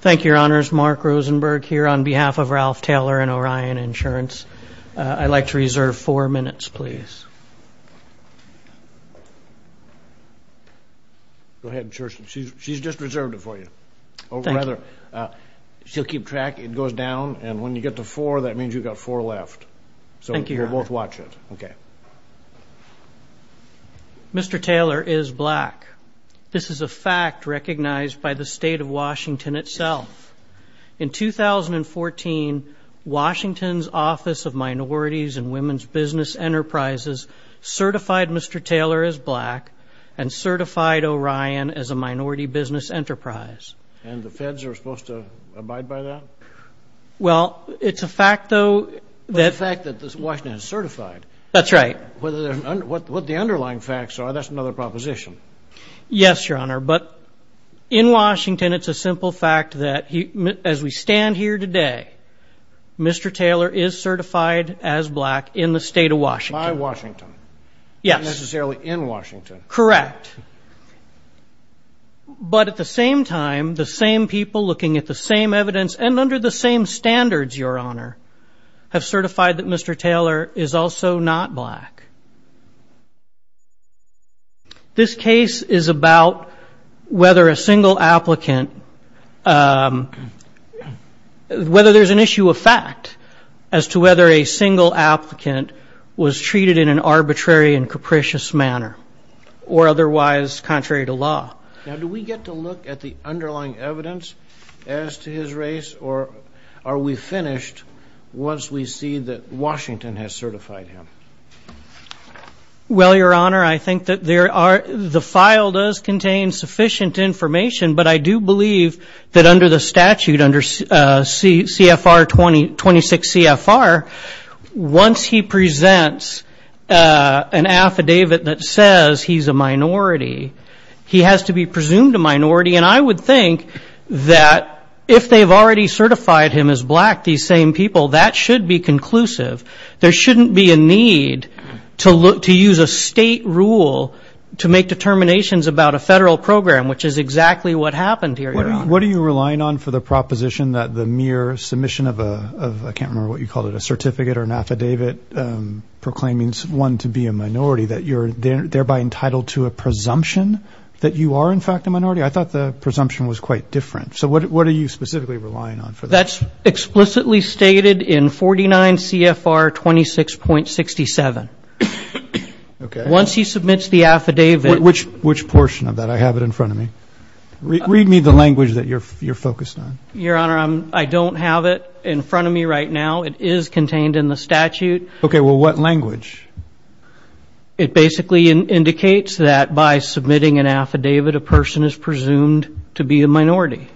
Thank you, Your Honors. Mark Rosenberg here on behalf of Ralph Taylor and Orion Insurance. I'd like to reserve four minutes, please. Go ahead, insurance. She's just reserved it for you. Thank you. She'll keep track. It goes down, and when you get to four, that means you've got four left. Thank you, Your Honor. So we'll both watch it. Okay. Mr. Taylor is black. This is a fact recognized by the state of Washington itself. In 2014, Washington's Office of Minorities and Women's Business Enterprises certified Mr. Taylor as black and certified Orion as a minority business enterprise. And the feds are supposed to abide by that? Well, it's a fact, though. It's a fact that Washington is certified. That's right. What the underlying facts are, that's another proposition. Yes, Your Honor, but in Washington, it's a simple fact that as we stand here today, Mr. Taylor is certified as black in the state of Washington. By Washington. Yes. Not necessarily in Washington. Correct. But at the same time, the same people looking at the same evidence and under the same standards, Your Honor, have certified that Mr. Taylor is also not black. This case is about whether a single applicant, whether there's an issue of fact as to whether a single applicant was treated in an arbitrary and capricious manner or otherwise contrary to law. Now, do we get to look at the underlying evidence as to his race, or are we finished once we see that Washington has certified him? Well, Your Honor, I think that the file does contain sufficient information, but I do believe that under the statute, under CFR 26 CFR, once he presents an affidavit that says he's a minority, he has to be presumed a minority. And I would think that if they've already certified him as black, these same people, that should be conclusive. There shouldn't be a need to use a state rule to make determinations about a federal program, which is exactly what happened here, Your Honor. What are you relying on for the proposition that the mere submission of a, I can't remember what you called it, a certificate or an affidavit proclaiming one to be a minority, that you're thereby entitled to a presumption that you are, in fact, a minority? I thought the presumption was quite different. So what are you specifically relying on for that? That's explicitly stated in 49 CFR 26.67. Once he submits the affidavit. Which portion of that? I have it in front of me. Read me the language that you're focused on. Your Honor, I don't have it in front of me right now. It is contained in the statute. Okay. Well, what language? It basically indicates that by submitting an affidavit, a person is presumed to be a minority.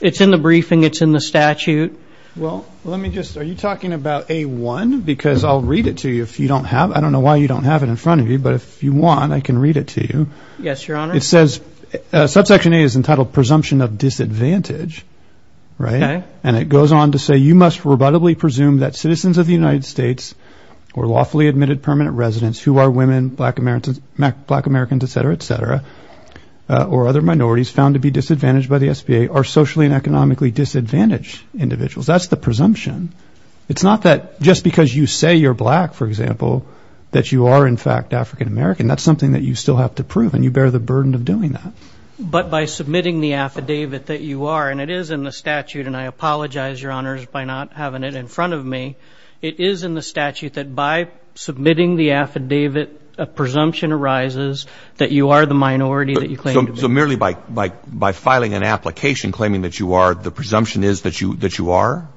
It's in the briefing. It's in the statute. Well, let me just, are you talking about A1? Because I'll read it to you if you don't have it. I don't know why you don't have it in front of you, but if you want, I can read it to you. Yes, Your Honor. It says, subsection A is entitled presumption of disadvantage, right? Okay. And it goes on to say, you must rebuttably presume that citizens of the United States or lawfully admitted permanent residents who are women, black Americans, et cetera, et cetera, or other minorities found to be disadvantaged by the SBA are socially and economically disadvantaged individuals. That's the presumption. It's not that just because you say you're black, for example, that you are, in fact, African American. That's something that you still have to prove, and you bear the burden of doing that. But by submitting the affidavit that you are, and it is in the statute, and I apologize, Your Honors, by not having it in front of me. It is in the statute that by submitting the affidavit, a presumption arises that you are the minority that you claim to be. So merely by filing an application claiming that you are, the presumption is that you are?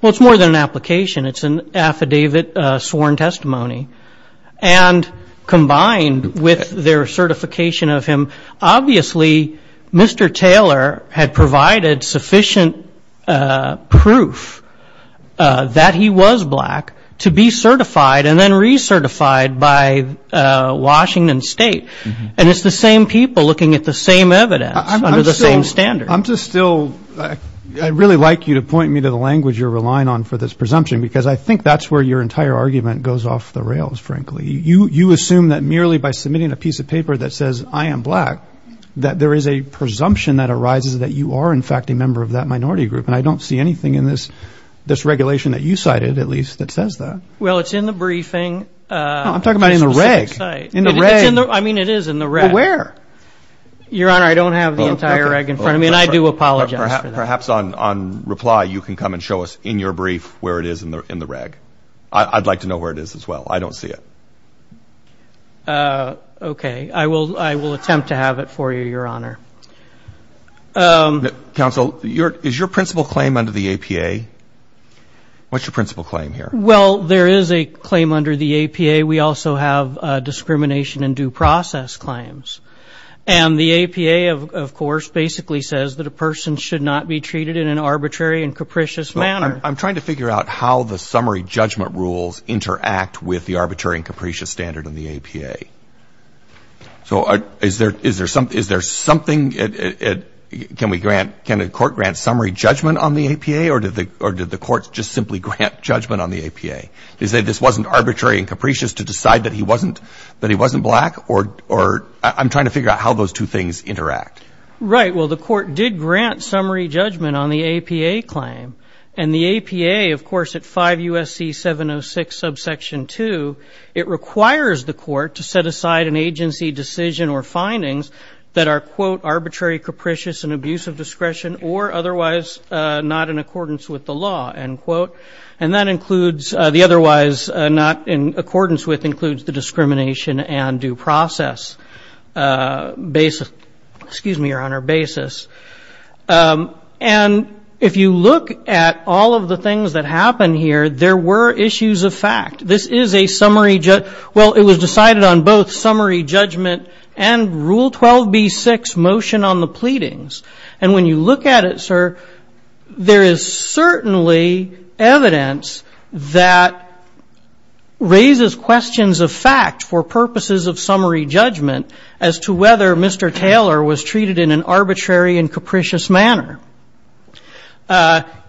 Well, it's more than an application. It's an affidavit sworn testimony. And combined with their certification of him, obviously Mr. Taylor had provided sufficient proof that he was black to be certified and then recertified by Washington State. And it's the same people looking at the same evidence under the same standard. I'm just still, I'd really like you to point me to the language you're relying on for this presumption, because I think that's where your entire argument goes off the rails, frankly. You assume that merely by submitting a piece of paper that says, I am black, that there is a presumption that arises that you are in fact a member of that minority group. And I don't see anything in this regulation that you cited, at least, that says that. Well, it's in the briefing. I'm talking about in the reg. In the reg. I mean, it is in the reg. But where? Your Honor, I don't have the entire reg in front of me, and I do apologize for that. Perhaps on reply you can come and show us in your brief where it is in the reg. I'd like to know where it is as well. I don't see it. Okay. I will attempt to have it for you, Your Honor. Counsel, is your principal claim under the APA? What's your principal claim here? Well, there is a claim under the APA. We also have discrimination and due process claims. And the APA, of course, basically says that a person should not be treated in an arbitrary and capricious manner. I'm trying to figure out how the summary judgment rules interact with the arbitrary and capricious standard in the APA. So is there something, can the court grant summary judgment on the APA, or did the court just simply grant judgment on the APA? Did they say this wasn't arbitrary and capricious to decide that he wasn't black? Or I'm trying to figure out how those two things interact. Right. Well, the court did grant summary judgment on the APA claim. And the APA, of course, at 5 U.S.C. 706, subsection 2, it requires the court to set aside an agency decision or findings that are, quote, arbitrary, capricious, and abuse of discretion, or otherwise not in accordance with the law, end quote. And that includes the otherwise not in accordance with includes the discrimination and due process basis, excuse me, Your Honor, basis. And if you look at all of the things that happen here, there were issues of fact. This is a summary, well, it was decided on both summary judgment and Rule 12b-6 motion on the pleadings. And when you look at it, sir, there is certainly evidence that raises questions of fact for purposes of summary judgment as to whether Mr. Taylor was treated in an arbitrary and capricious manner.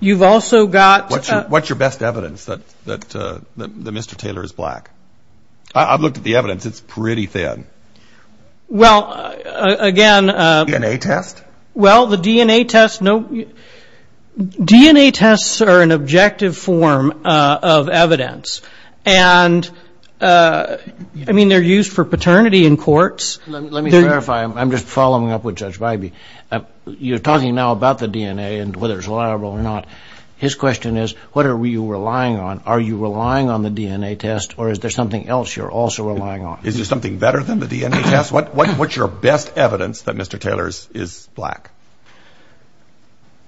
You've also got. What's your best evidence that Mr. Taylor is black? I've looked at the evidence. It's pretty thin. Well, again. DNA test? Well, the DNA test, no. DNA tests are an objective form of evidence. And, I mean, they're used for paternity in courts. Let me clarify. I'm just following up with Judge Bybee. You're talking now about the DNA and whether it's liable or not. His question is, what are you relying on? Are you relying on the DNA test, or is there something else you're also relying on? Is there something better than the DNA test? What's your best evidence that Mr. Taylor is black?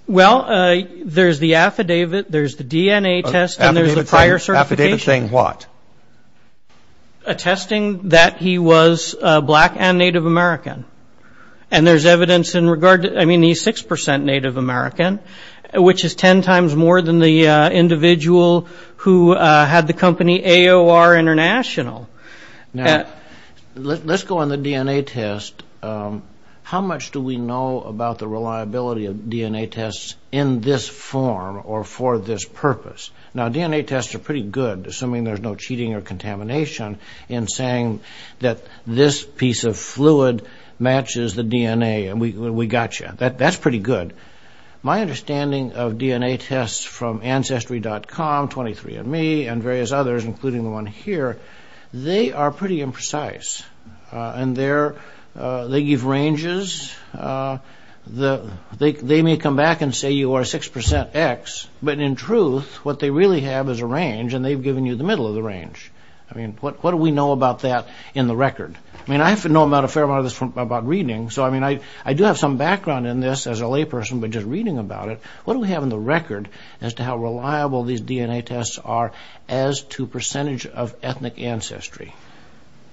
Well, there's the affidavit, there's the DNA test, and there's the prior certification. Affidavit saying what? Attesting that he was black and Native American. And there's evidence in regard to, I mean, he's 6% Native American, which is 10 times more than the individual who had the company AOR International. Now, let's go on the DNA test. How much do we know about the reliability of DNA tests in this form or for this purpose? Now, DNA tests are pretty good, assuming there's no cheating or contamination, in saying that this piece of fluid matches the DNA, and we got you. That's pretty good. My understanding of DNA tests from Ancestry.com, 23andMe, and various others, including the one here, they are pretty imprecise. And they give ranges. They may come back and say you are 6% X, but in truth, what they really have is a range, and they've given you the middle of the range. I mean, what do we know about that in the record? I mean, I know a fair amount about reading, so I do have some background in this as a layperson, but just reading about it, what do we have in the record as to how reliable these DNA tests are as to percentage of ethnic ancestry?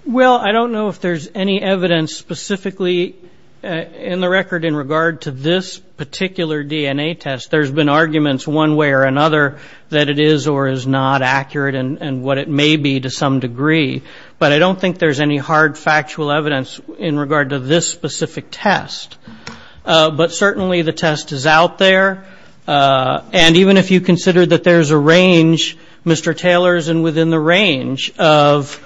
Well, I don't know if there's any evidence specifically in the record in regard to this particular DNA test. There's been arguments one way or another that it is or is not accurate and what it may be to some degree, but I don't think there's any hard factual evidence in regard to this specific test. But certainly the test is out there, and even if you consider that there's a range, Mr. Taylor's within the range of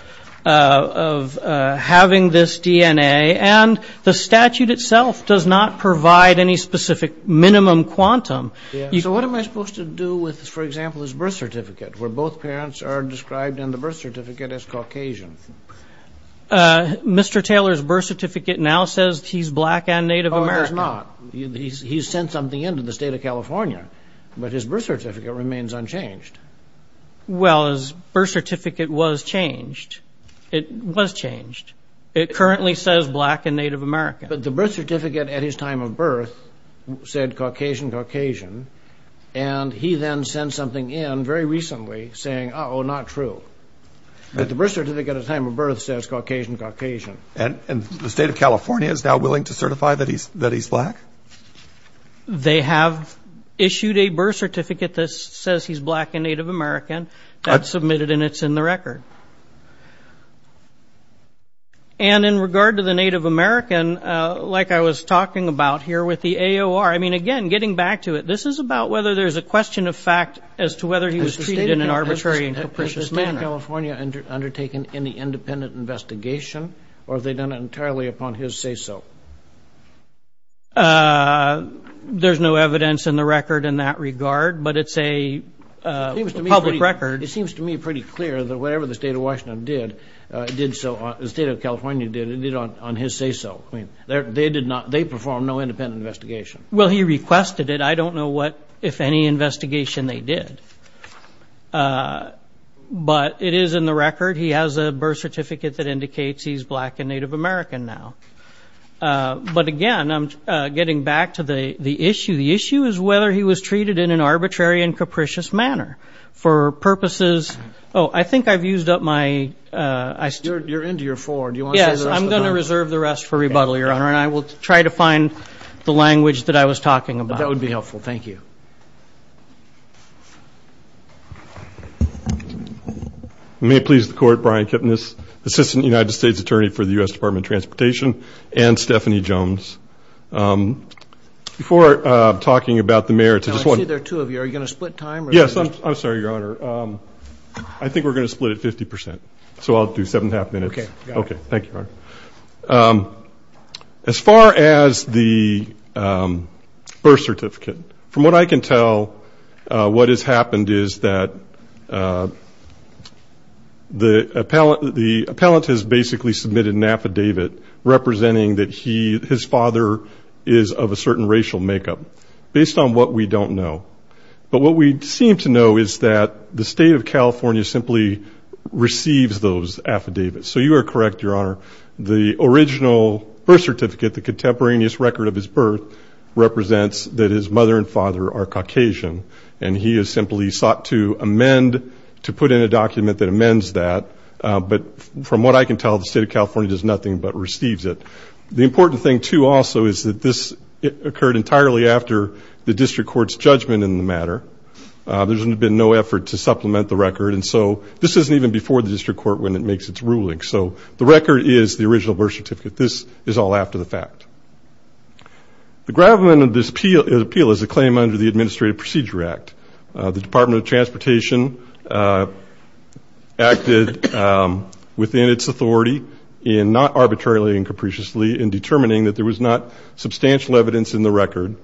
having this DNA, and the statute itself does not provide any specific minimum quantum. So what am I supposed to do with, for example, his birth certificate, where both parents are described in the birth certificate as Caucasian? Mr. Taylor's birth certificate now says he's black and Native American. Oh, it does not. He's sent something in to the state of California, but his birth certificate remains unchanged. Well, his birth certificate was changed. It was changed. It currently says black and Native American. But the birth certificate at his time of birth said Caucasian-Caucasian, and he then sent something in very recently saying, uh-oh, not true. But the birth certificate at his time of birth says Caucasian-Caucasian. And the state of California is now willing to certify that he's black? They have issued a birth certificate that says he's black and Native American. That's submitted, and it's in the record. And in regard to the Native American, like I was talking about here with the AOR, I mean, again, getting back to it, this is about whether there's a question of fact as to whether he was treated in an arbitrary and capricious manner. Has the state of California undertaken any independent investigation, or have they done it entirely upon his say-so? There's no evidence in the record in that regard, but it's a public record. It seems to me pretty clear that whatever the state of Washington did, the state of California did it on his say-so. They performed no independent investigation. Well, he requested it. I don't know what, if any, investigation they did. But it is in the record. He has a birth certificate that indicates he's black and Native American now. But, again, I'm getting back to the issue. The issue is whether he was treated in an arbitrary and capricious manner. For purposes of ‑‑oh, I think I've used up my ‑‑ You're into your four. Do you want to say the rest of them? Yes, I'm going to reserve the rest for rebuttal, Your Honor. And I will try to find the language that I was talking about. That would be helpful. Thank you. May it please the Court, Brian Kipnis, Assistant United States Attorney for the U.S. Department of Transportation, and Stephanie Jones. Before talking about the merits of this one ‑‑ I see there are two of you. Are you going to split time? Yes, I'm sorry, Your Honor. I think we're going to split at 50 percent. So I'll do seven and a half minutes. Okay, got it. Okay, thank you, Your Honor. As far as the birth certificate, from what I can tell what has happened is that the appellant has basically submitted an affidavit representing that his father is of a certain racial makeup, based on what we don't know. But what we seem to know is that the State of California simply receives those affidavits. So you are correct, Your Honor. The original birth certificate, the contemporaneous record of his birth, represents that his mother and father are Caucasian. And he has simply sought to amend, to put in a document that amends that. But from what I can tell, the State of California does nothing but receives it. The important thing, too, also, is that this occurred entirely after the district court's judgment in the matter. There's been no effort to supplement the record. And so this isn't even before the district court when it makes its ruling. So the record is the original birth certificate. This is all after the fact. The gravamen of this appeal is a claim under the Administrative Procedure Act. The Department of Transportation acted within its authority in not arbitrarily and capriciously in determining that there was not substantial evidence in the record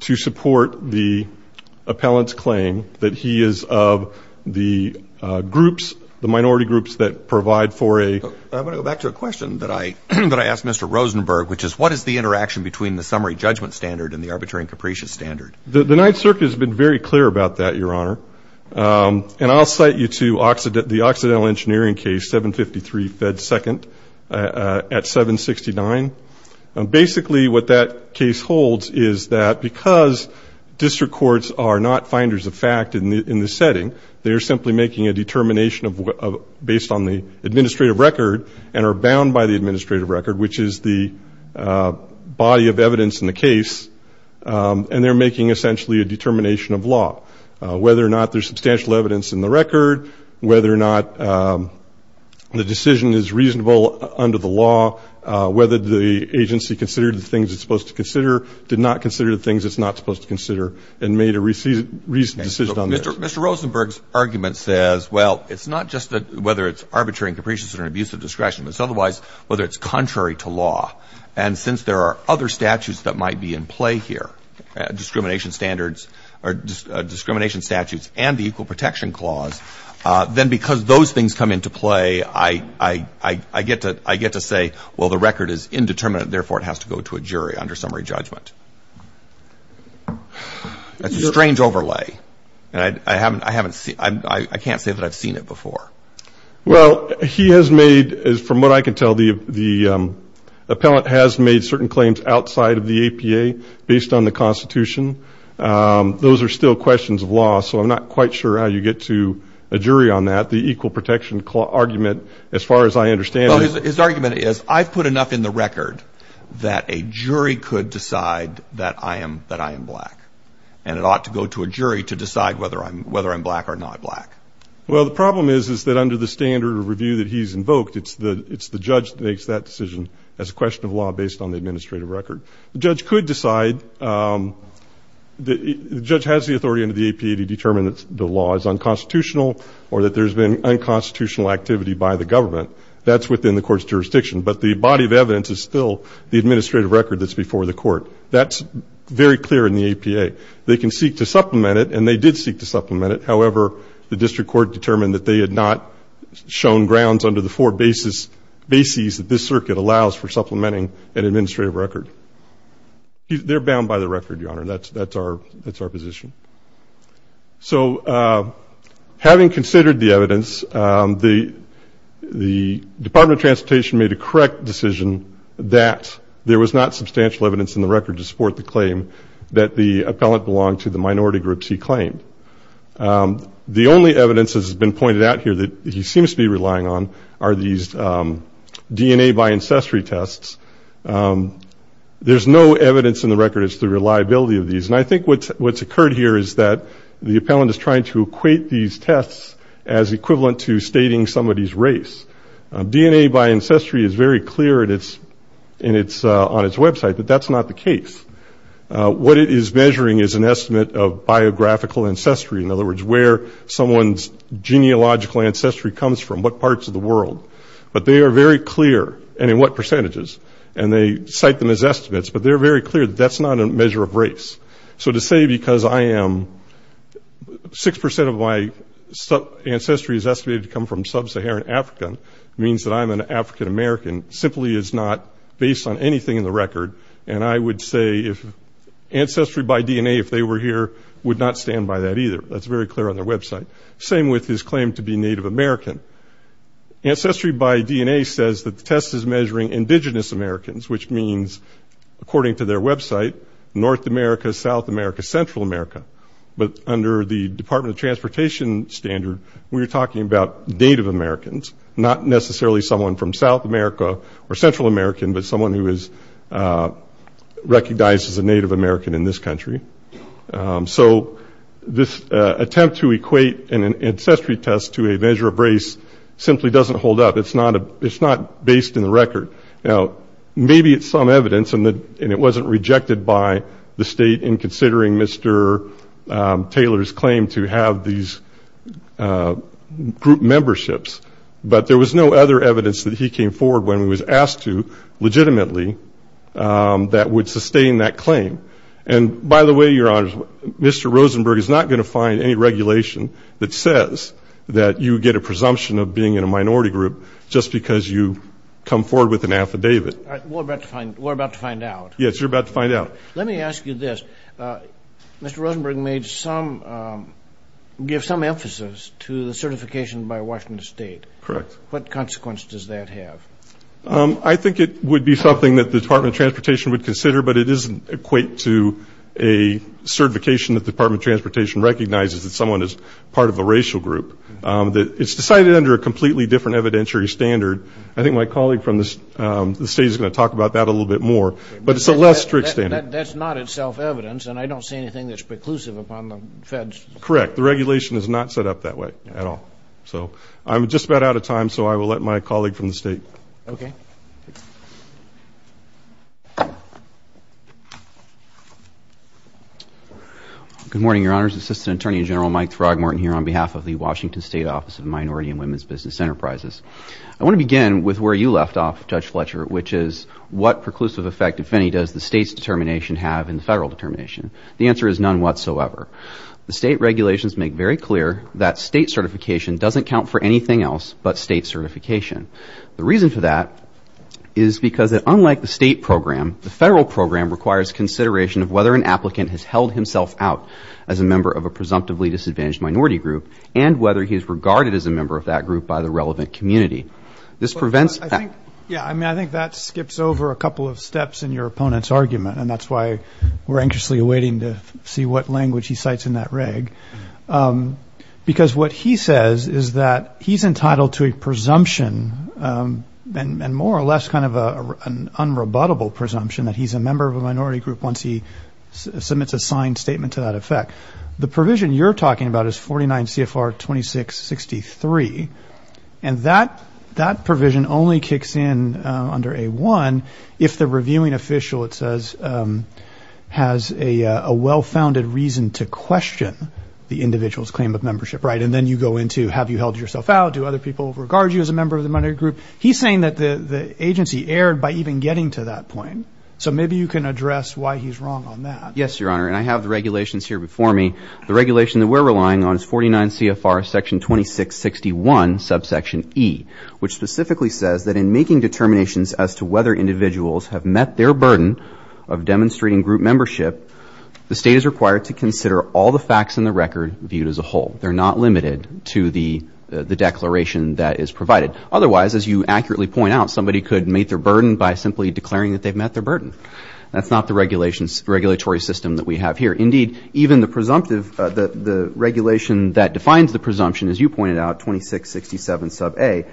to support the appellant's claim that he is of the groups, the minority groups that provide for a ---- I'm going to go back to a question that I asked Mr. Rosenberg, which is what is the interaction between the summary judgment standard and the arbitrary and capricious standard? The Ninth Circuit has been very clear about that, Your Honor. And I'll cite you to the Occidental Engineering case, 753 Fed 2nd at 769. Basically what that case holds is that because district courts are not finders of fact in the setting, they are simply making a determination based on the administrative record and are bound by the administrative record, which is the body of evidence in the case, and they're making essentially a determination of law, whether or not there's substantial evidence in the record, whether or not the decision is reasonable under the law, whether the agency considered the things it's supposed to consider, did not consider the things it's not supposed to consider, and made a reasonable decision on that. Mr. Rosenberg's argument says, well, it's not just whether it's arbitrary and capricious and an abuse of discretion, but it's otherwise whether it's contrary to law. And since there are other statutes that might be in play here, discrimination standards or discrimination statutes and the Equal Protection Clause, then because those things come into play, I get to say, well, the record is indeterminate, therefore it has to go to a jury under summary judgment. That's a strange overlay, and I can't say that I've seen it before. Well, he has made, from what I can tell, the appellant has made certain claims outside of the APA based on the Constitution. Those are still questions of law, so I'm not quite sure how you get to a jury on that. But the Equal Protection Clause argument, as far as I understand it... His argument is, I've put enough in the record that a jury could decide that I am black, and it ought to go to a jury to decide whether I'm black or not black. Well, the problem is, is that under the standard of review that he's invoked, it's the judge that makes that decision as a question of law based on the administrative record. The judge could decide, the judge has the authority under the APA to determine that the law is unconstitutional or that there's been unconstitutional activity by the government. That's within the court's jurisdiction. But the body of evidence is still the administrative record that's before the court. That's very clear in the APA. They can seek to supplement it, and they did seek to supplement it. However, the district court determined that they had not shown grounds under the four bases that this circuit allows for supplementing an administrative record. They're bound by the record, Your Honor. That's our position. So having considered the evidence, the Department of Transportation made a correct decision that there was not substantial evidence in the record to support the claim that the appellant belonged to the minority groups he claimed. The only evidence, as has been pointed out here, that he seems to be relying on are these DNA by ancestry tests. There's no evidence in the record as to the reliability of these. And I think what's occurred here is that the appellant is trying to equate these tests as equivalent to stating somebody's race. DNA by ancestry is very clear on its website that that's not the case. What it is measuring is an estimate of biographical ancestry, in other words, where someone's genealogical ancestry comes from, what parts of the world. But they are very clear in what percentages. And they cite them as estimates. But they're very clear that that's not a measure of race. So to say because I am 6% of my ancestry is estimated to come from sub-Saharan Africa means that I'm an African American simply is not based on anything in the record. And I would say ancestry by DNA, if they were here, would not stand by that either. That's very clear on their website. Same with his claim to be Native American. Ancestry by DNA says that the test is measuring indigenous Americans, which means, according to their website, North America, South America, Central America. But under the Department of Transportation standard, we're talking about Native Americans, not necessarily someone from South America or Central America, but someone who is recognized as a Native American in this country. So this attempt to equate an ancestry test to a measure of race simply doesn't hold up. It's not based in the record. Now, maybe it's some evidence, and it wasn't rejected by the state in considering Mr. Taylor's claim to have these group memberships. But there was no other evidence that he came forward when he was asked to legitimately that would sustain that claim. And, by the way, Your Honors, Mr. Rosenberg is not going to find any regulation that says that you get a presumption of being in a minority group just because you come forward with an affidavit. We're about to find out. Yes, you're about to find out. Let me ask you this. Mr. Rosenberg gave some emphasis to the certification by Washington State. Correct. What consequence does that have? I think it would be something that the Department of Transportation would consider, but it doesn't equate to a certification that the Department of Transportation recognizes that someone is part of a racial group. It's decided under a completely different evidentiary standard. I think my colleague from the state is going to talk about that a little bit more. But it's a less strict standard. That's not itself evidence, and I don't see anything that's preclusive upon the feds. Correct. The regulation is not set up that way at all. So I'm just about out of time, so I will let my colleague from the state. Okay. Good morning, Your Honors. Assistant Attorney General Mike Throgmorton here on behalf of the Washington State Office of Minority and Women's Business Enterprises. I want to begin with where you left off, Judge Fletcher, which is what preclusive effect, if any, does the state's determination have in the federal determination? The answer is none whatsoever. The state regulations make very clear that state certification doesn't count for anything else but state certification. The reason for that is because, unlike the state program, the federal program requires consideration of whether an applicant has held himself out as a member of a presumptively disadvantaged minority group and whether he is regarded as a member of that group by the relevant community. I think that skips over a couple of steps in your opponent's argument, and that's why we're anxiously awaiting to see what language he cites in that reg. Because what he says is that he's entitled to a presumption and more or less kind of an unrebuttable presumption that he's a member of a minority group once he submits a signed statement to that effect. The provision you're talking about is 49 CFR 2663, and that provision only kicks in under A1 if the reviewing official, it says, has a well-founded reason to question the individual's claim of membership. And then you go into have you held yourself out? Do other people regard you as a member of the minority group? He's saying that the agency erred by even getting to that point, so maybe you can address why he's wrong on that. Yes, Your Honor, and I have the regulations here before me. The regulation that we're relying on is 49 CFR section 2661, subsection E, which specifically says that in making determinations as to whether individuals have met their burden of demonstrating group membership, the state is required to consider all the facts in the record viewed as a whole. They're not limited to the declaration that is provided. Otherwise, as you accurately point out, somebody could meet their burden by simply declaring that they've met their burden. That's not the regulatory system that we have here. Indeed, even the presumptive, the regulation that defines the presumption, as you pointed out, 2667, sub A,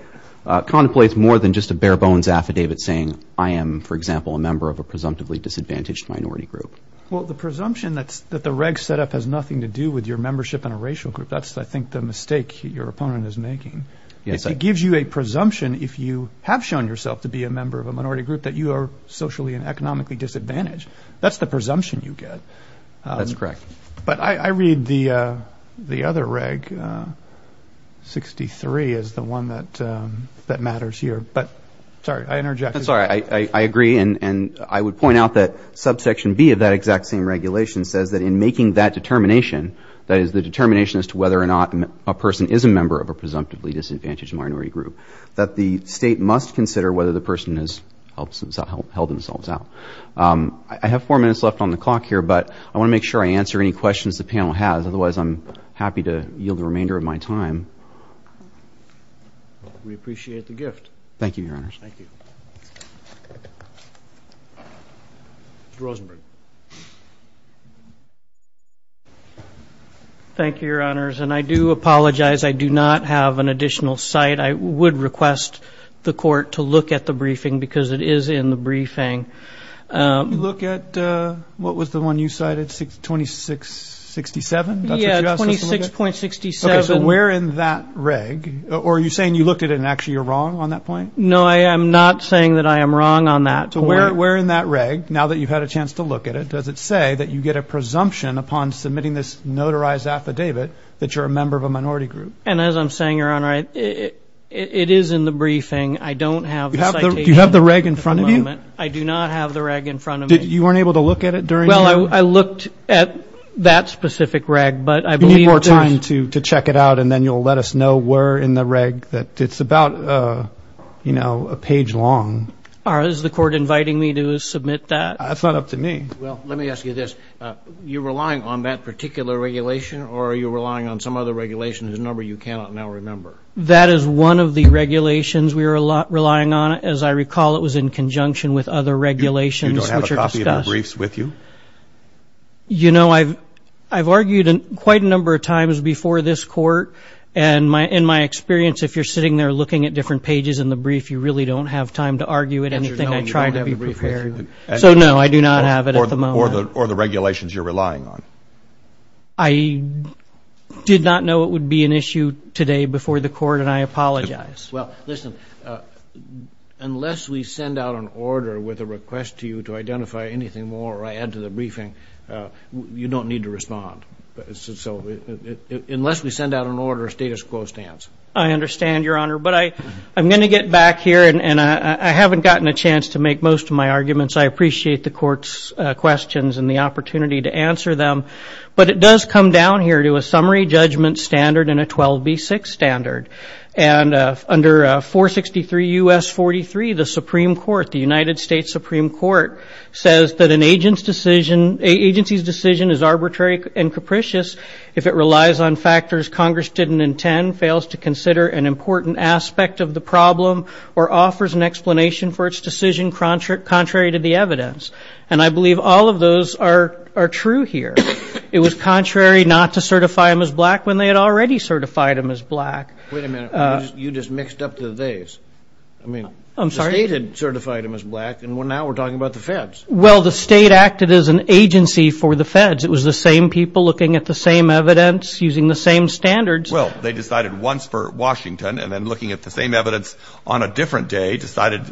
contemplates more than just a bare-bones affidavit saying I am, for example, a member of a presumptively disadvantaged minority group. Well, the presumption that the reg setup has nothing to do with your membership in a racial group, that's, I think, the mistake your opponent is making. It gives you a presumption if you have shown yourself to be a member of a minority group that you are socially and economically disadvantaged. That's the presumption you get. That's correct. But I read the other reg, 63, as the one that matters here. But, sorry, I interjected. I'm sorry. I agree, and I would point out that subsection B of that exact same regulation says that in making that determination, that is the determination as to whether or not a person is a member of a presumptively disadvantaged minority group, that the state must consider whether the person has held themselves out. I have four minutes left on the clock here, but I want to make sure I answer any questions the panel has. Otherwise, I'm happy to yield the remainder of my time. We appreciate the gift. Thank you, Your Honors. Thank you. Mr. Rosenberg. Thank you, Your Honors, and I do apologize. I do not have an additional cite. I would request the court to look at the briefing because it is in the briefing. Look at what was the one you cited, 2667? Yeah, 26.67. Okay, so where in that reg, or are you saying you looked at it and actually you're wrong on that point? No, I am not saying that I am wrong on that point. So where in that reg, now that you've had a chance to look at it, does it say that you get a presumption upon submitting this notarized affidavit that you're a member of a minority group? And as I'm saying, Your Honor, it is in the briefing. I don't have the citation at the moment. Do you have the reg in front of you? I do not have the reg in front of me. You weren't able to look at it during your? Well, I looked at that specific reg. You need more time to check it out, and then you'll let us know where in the reg that it's about a page long. Is the court inviting me to submit that? That's not up to me. Well, let me ask you this. You're relying on that particular regulation, or are you relying on some other regulation? There's a number you cannot now remember. That is one of the regulations we are relying on. As I recall, it was in conjunction with other regulations. You don't have a copy of the briefs with you? You know, I've argued quite a number of times before this court, and in my experience, if you're sitting there looking at different pages in the brief, you really don't have time to argue at anything I try to be prepared with. So, no, I do not have it at the moment. Or the regulations you're relying on. I did not know it would be an issue today before the court, and I apologize. Well, listen, unless we send out an order with a request to you to identify anything more or add to the briefing, you don't need to respond. So unless we send out an order, status quo stands. I understand, Your Honor. But I'm going to get back here, and I haven't gotten a chance to make most of my arguments. I appreciate the court's questions and the opportunity to answer them. But it does come down here to a summary judgment standard and a 12B6 standard. And under 463 U.S. 43, the Supreme Court, the United States Supreme Court, says that an agency's decision is arbitrary and capricious if it relies on factors Congress didn't intend, fails to consider an important aspect of the problem, or offers an explanation for its decision contrary to the evidence. And I believe all of those are true here. It was contrary not to certify them as black when they had already certified them as black. Wait a minute. You just mixed up the theys. I mean, the state had certified them as black, and now we're talking about the feds. Well, the state acted as an agency for the feds. It was the same people looking at the same evidence, using the same standards. Well, they decided once for Washington, and then looking at the same evidence on a different day, decided for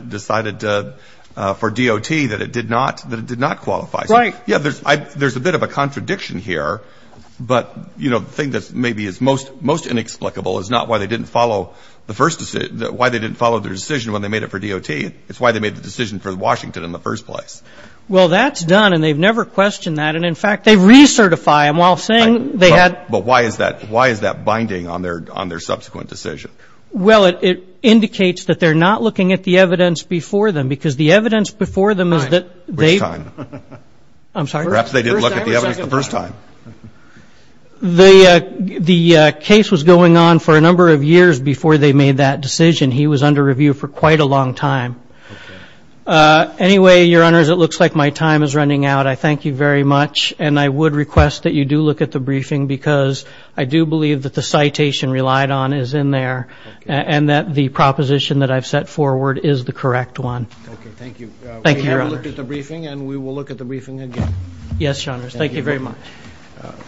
DOT that it did not qualify. Right. Yeah, there's a bit of a contradiction here. But, you know, the thing that maybe is most inexplicable is not why they didn't follow the first decision, why they didn't follow their decision when they made it for DOT. It's why they made the decision for Washington in the first place. Well, that's done, and they've never questioned that. And, in fact, they recertify them while saying they had. But why is that binding on their subsequent decision? Well, it indicates that they're not looking at the evidence before them, because the evidence before them is that they... Which time? I'm sorry. Perhaps they did look at the evidence the first time. The case was going on for a number of years before they made that decision. He was under review for quite a long time. Anyway, Your Honors, it looks like my time is running out. I thank you very much. And I would request that you do look at the briefing, because I do believe that the citation relied on is in there. And that the proposition that I've set forward is the correct one. Okay, thank you. Thank you, Your Honors. We have a look at the briefing, and we will look at the briefing again. Yes, Your Honors. Thank you very much.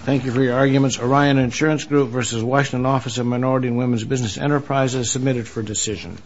Thank you for your arguments. Orion Insurance Group v. Washington Office of Minority and Women's Business Enterprise is submitted for decision.